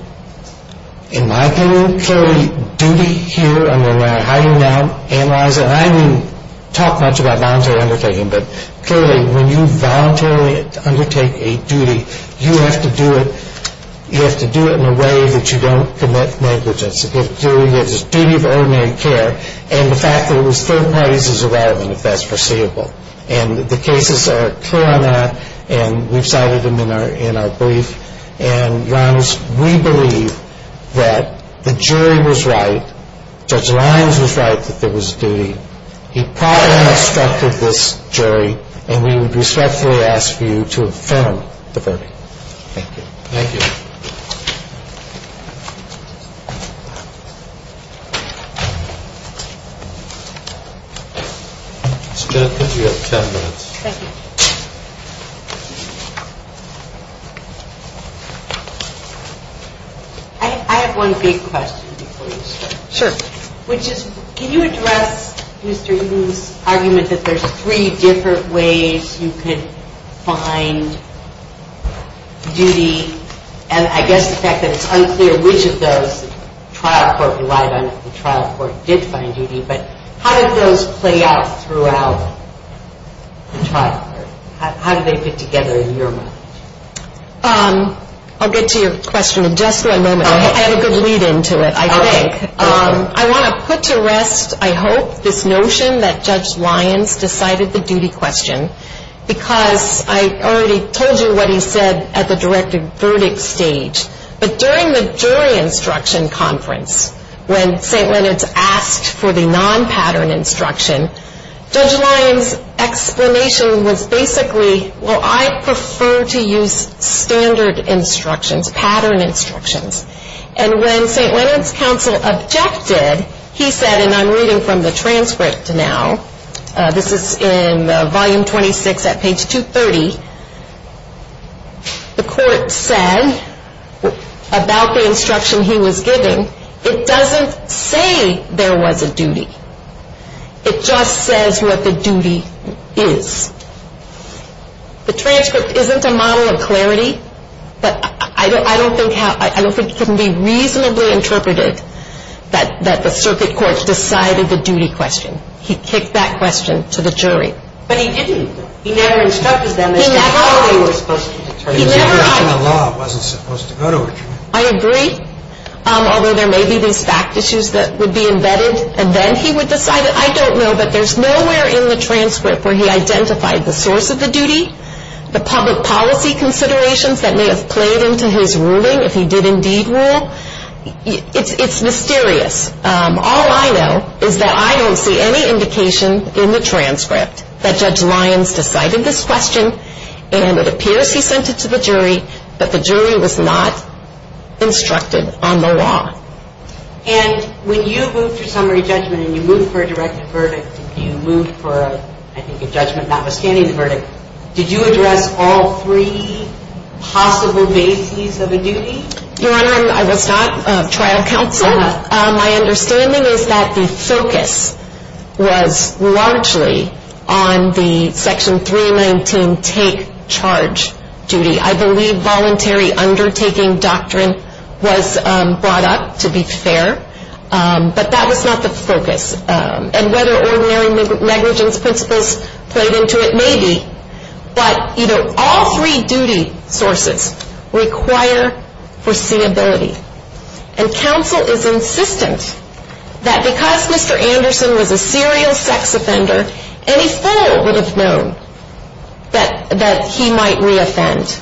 in my opinion, clearly duty here, and then how you now analyze it, and I didn't talk much about voluntary undertaking, but clearly when you voluntarily undertake a duty, you have to do it in a way that you don't commit negligence. It's a duty of ordinary care, and the fact that it was third parties is irrelevant if that's foreseeable. And the cases are clear on that, and we've cited them in our brief. And, Your Honors, we believe that the jury was right. Judge Lyons was right that there was a duty. He probably instructed this jury, and we would respectfully ask for you to affirm the verdict. Thank you. Thank you. Ms. Smith, you have ten minutes. Thank you. I have one big question before you start. Sure. Can you address Mr. Eaton's argument that there's three different ways you could find duty, and I guess the fact that it's unclear which of those the trial court relied on if the trial court did find duty, but how did those play out throughout the trial court? How did they fit together in your mind? I'll get to your question in just one moment. I have a good lead-in to it, I think. I want to put to rest, I hope, this notion that Judge Lyons decided the duty question because I already told you what he said at the directed verdict stage. But during the jury instruction conference, when St. Leonard's asked for the non-pattern instruction, Judge Lyons' explanation was basically, well, I prefer to use standard instructions, pattern instructions. And when St. Leonard's counsel objected, he said, and I'm reading from the transcript now, this is in volume 26 at page 230, the court said about the instruction he was giving, it doesn't say there was a duty. It just says what the duty is. The transcript isn't a model of clarity, but I don't think it can be reasonably interpreted that the circuit court decided the duty question. He kicked that question to the jury. But he didn't. He never instructed them as to how they were supposed to determine it. He never asked. The question of law wasn't supposed to go to a jury. I agree, although there may be these fact issues that would be embedded, and then he would decide it. I don't know, but there's nowhere in the transcript where he identified the source of the duty, the public policy considerations that may have played into his ruling, if he did indeed rule. It's mysterious. All I know is that I don't see any indication in the transcript that Judge Lyons decided this question, and it appears he sent it to the jury, but the jury was not instructed on the law. And when you moved your summary judgment and you moved for a directive verdict, you moved for, I think, a judgment notwithstanding the verdict, did you address all three possible bases of a duty? Your Honor, I was not trial counsel. My understanding is that the focus was largely on the Section 319 take charge duty. I believe voluntary undertaking doctrine was brought up, to be fair, but that was not the focus. And whether ordinary negligence principles played into it, maybe. But, you know, all three duty sources require foreseeability. And counsel is insistent that because Mr. Anderson was a serial sex offender, any fool would have known that he might reoffend.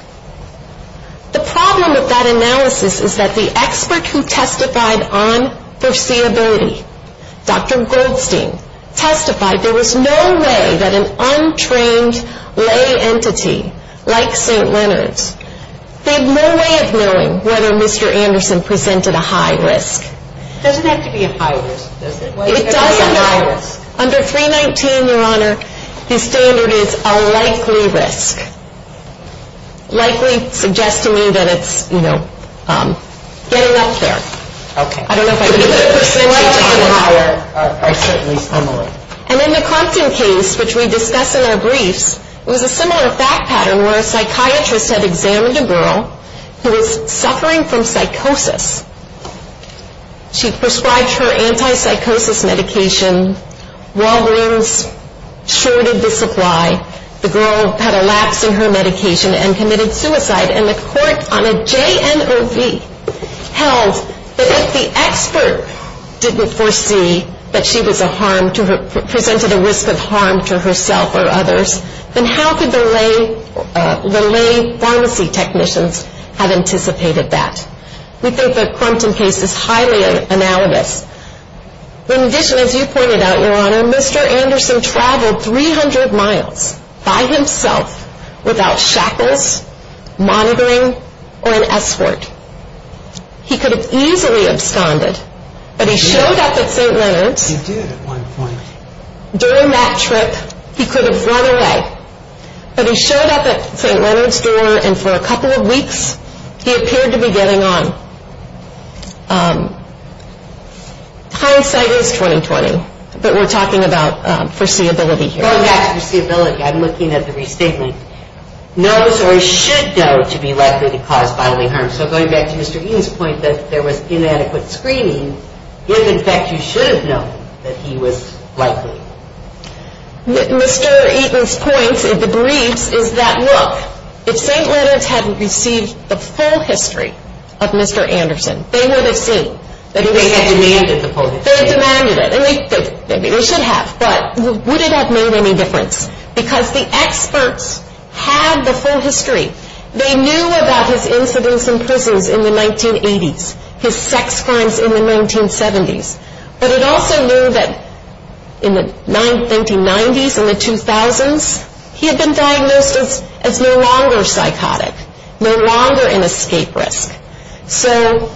The problem with that analysis is that the expert who testified on foreseeability, Dr. Goldstein, testified there was no way that an untrained lay entity like St. Leonard's had no way of knowing whether Mr. Anderson presented a high risk. It doesn't have to be a high risk, does it? It doesn't. Under 319, Your Honor, the standard is a likely risk. Likely suggests to me that it's, you know, getting up there. Okay. I don't know if I need to put a percentage on that. I certainly don't. And in the Crompton case, which we discuss in our briefs, it was a similar fact pattern where a psychiatrist had examined a girl who was suffering from psychosis. She prescribed her anti-psychosis medication. Walgreens shorted the supply. The girl had a lapse in her medication and committed suicide. And the court on a JNRV held that if the expert didn't foresee that she was a harm to her, presented a risk of harm to herself or others, then how could the lay pharmacy technicians have anticipated that? We think the Crompton case is highly analogous. In addition, as you pointed out, Your Honor, Mr. Anderson traveled 300 miles by himself without shackles, monitoring, or an escort. He could have easily absconded. But he showed up at St. Leonard's. He did at one point. During that trip, he could have run away. But he showed up at St. Leonard's door, and for a couple of weeks he appeared to be getting on. Hindsight is 20-20, but we're talking about foreseeability here. Going back to foreseeability, I'm looking at the restatement. Knows or should know to be likely to cause bodily harm. So going back to Mr. Eaton's point that there was inadequate screening, if, in fact, you should have known that he was likely. If St. Leonard's had received the full history of Mr. Anderson, they would have seen. They had demanded the full history. They demanded it, and they should have. But would it have made any difference? Because the experts had the full history. They knew about his incidents in prisons in the 1980s, his sex crimes in the 1970s. But it also knew that in the 1990s and the 2000s, he had been diagnosed as no longer psychotic, no longer an escape risk. So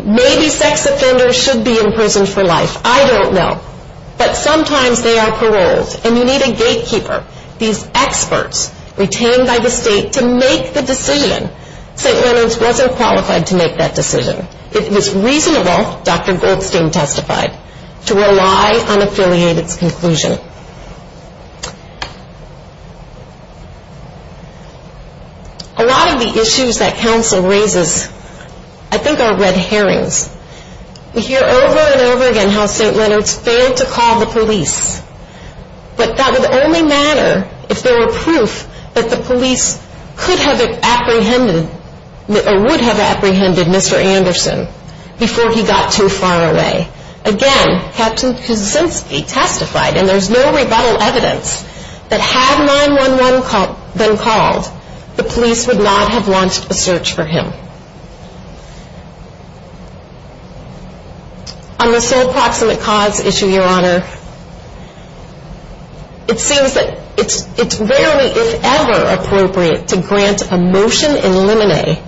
maybe sex offenders should be in prison for life. I don't know. But sometimes they are paroled, and you need a gatekeeper. These experts retained by the state to make the decision. St. Leonard's wasn't qualified to make that decision. It was reasonable, Dr. Goldstein testified, to rely on affiliated's conclusion. A lot of the issues that counsel raises, I think, are red herrings. We hear over and over again how St. Leonard's failed to call the police. But that would only matter if there were proof that the police could have apprehended or would have apprehended Mr. Anderson before he got too far away. Again, Captain Kuczynski testified, and there's no rebuttal evidence, that had 911 been called, the police would not have launched a search for him. On the sole proximate cause issue, Your Honor, it seems that it's rarely, if ever, appropriate to grant a motion in limine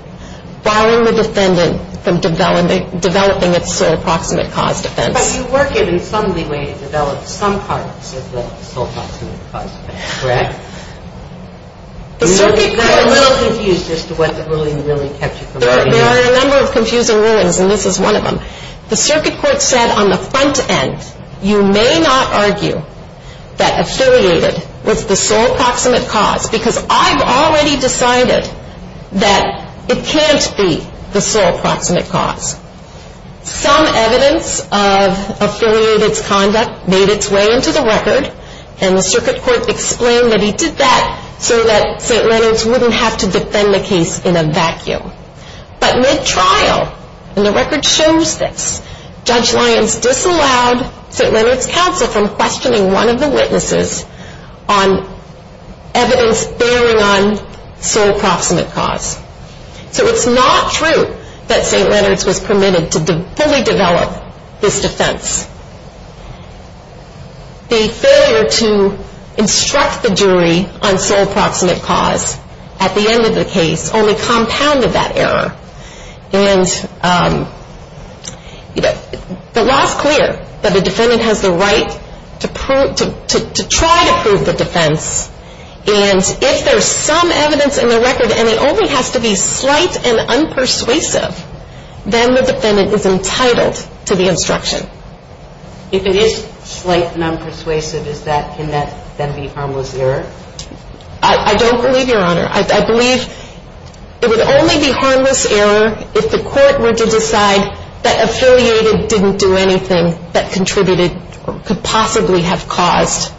barring the defendant from developing its sole proximate cause defense. But you were given some leeway to develop some parts of the sole proximate cause defense, correct? I'm a little confused as to what the ruling really kept you from writing. There are a number of confusing rulings, and this is one of them. The circuit court said on the front end, you may not argue that affiliated was the sole proximate cause, because I've already decided that it can't be the sole proximate cause. Some evidence of affiliated's conduct made its way into the record, and the circuit court explained that he did that so that St. Leonard's wouldn't have to defend the case in a vacuum. But mid-trial, and the record shows this, Judge Lyons disallowed St. Leonard's counsel from questioning one of the witnesses on evidence bearing on sole proximate cause. So it's not true that St. Leonard's was permitted to fully develop this defense. The failure to instruct the jury on sole proximate cause at the end of the case only compounded that error. The law's clear that a defendant has the right to try to prove the defense, and if there's some evidence in the record and it only has to be slight and unpersuasive, then the defendant is entitled to the instruction. If it is slight and unpersuasive, can that then be harmless error? I don't believe, Your Honor. I believe it would only be harmless error if the court were to decide that affiliated didn't do anything that contributed or could possibly have caused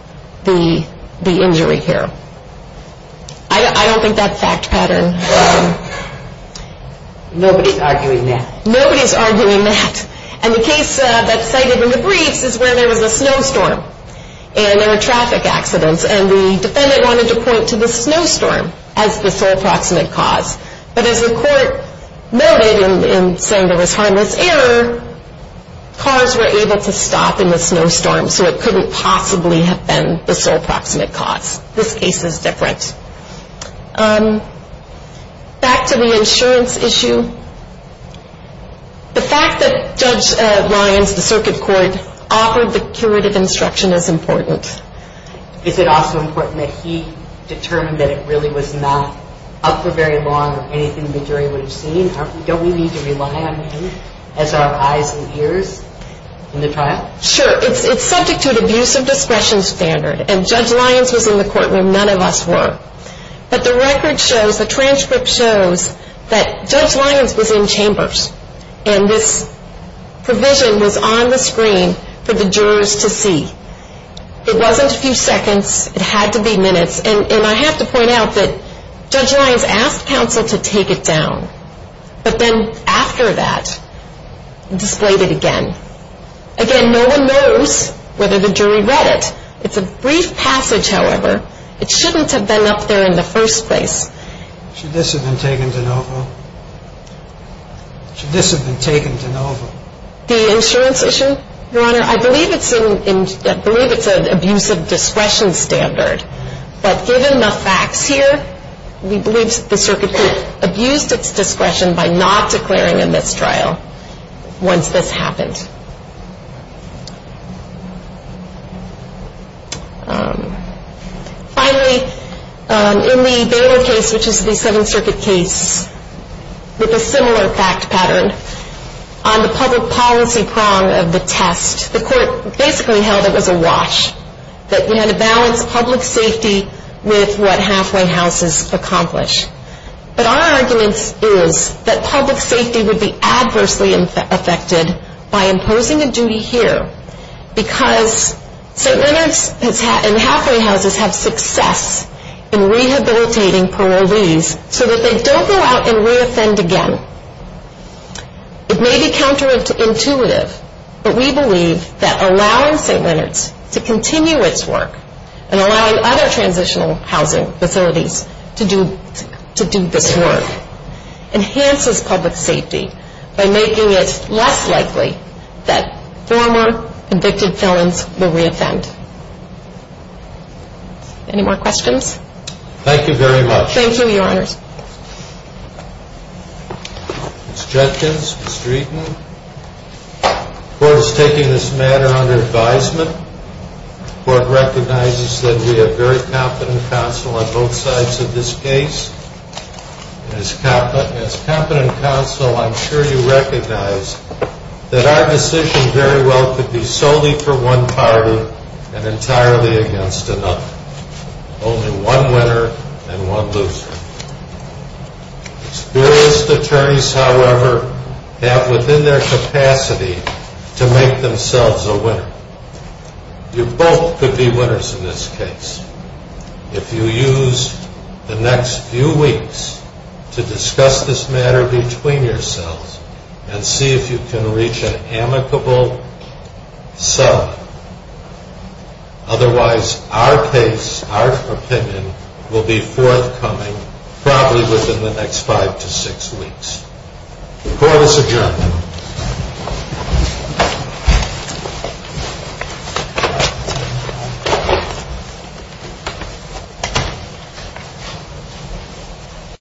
the injury here. I don't think that's a fact pattern. Nobody's arguing that. Nobody's arguing that. And the case that's cited in the briefs is where there was a snowstorm, and there were traffic accidents, and the defendant wanted to point to the snowstorm as the sole proximate cause. But as the court noted in saying there was harmless error, cars were able to stop in the snowstorm, so it couldn't possibly have been the sole proximate cause. This case is different. Back to the insurance issue. The fact that Judge Lyons, the circuit court, offered the curative instruction is important. Is it also important that he determined that it really was not up for very long or anything the jury would have seen? Don't we need to rely on him as our eyes and ears in the trial? Sure. It's subject to an abuse of discretion standard, and Judge Lyons was in the courtroom. None of us were. But the record shows, the transcript shows that Judge Lyons was in chambers, and this provision was on the screen for the jurors to see. It wasn't a few seconds. It had to be minutes. And I have to point out that Judge Lyons asked counsel to take it down, but then after that displayed it again. Again, no one knows whether the jury read it. It's a brief passage, however. It shouldn't have been up there in the first place. Should this have been taken de novo? Should this have been taken de novo? The insurance issue? Your Honor, I believe it's an abuse of discretion standard. But given the facts here, we believe the circuit court abused its discretion by not declaring a mistrial once this happened. Finally, in the Baylor case, which is the Seventh Circuit case, with a similar fact pattern, on the public policy prong of the test, the court basically held it was a wash, that we had to balance public safety with what halfway houses accomplish. But our argument is that public safety would be adversely affected by imposing a duty here because St. Leonard's and halfway houses have success in rehabilitating parolees so that they don't go out and reoffend again. It may be counterintuitive, but we believe that allowing St. Leonard's to continue its work and allowing other transitional housing facilities to do this work enhances public safety by making it less likely that former convicted felons will reoffend. Any more questions? Thank you very much. Thank you, Your Honors. Ms. Judkins, Mr. Eaton, the court is taking this matter under advisement. The court recognizes that we have very competent counsel on both sides of this case and as competent counsel, I'm sure you recognize that our decision very well could be solely for one party and entirely against another. Only one winner and one loser. Experienced attorneys, however, have within their capacity to make themselves a winner. You both could be winners in this case. If you use the next few weeks to discuss this matter between yourselves and see if you can reach an amicable sum, otherwise our case, our opinion, will be forthcoming probably within the next five to six weeks. The court is adjourned. Thank you.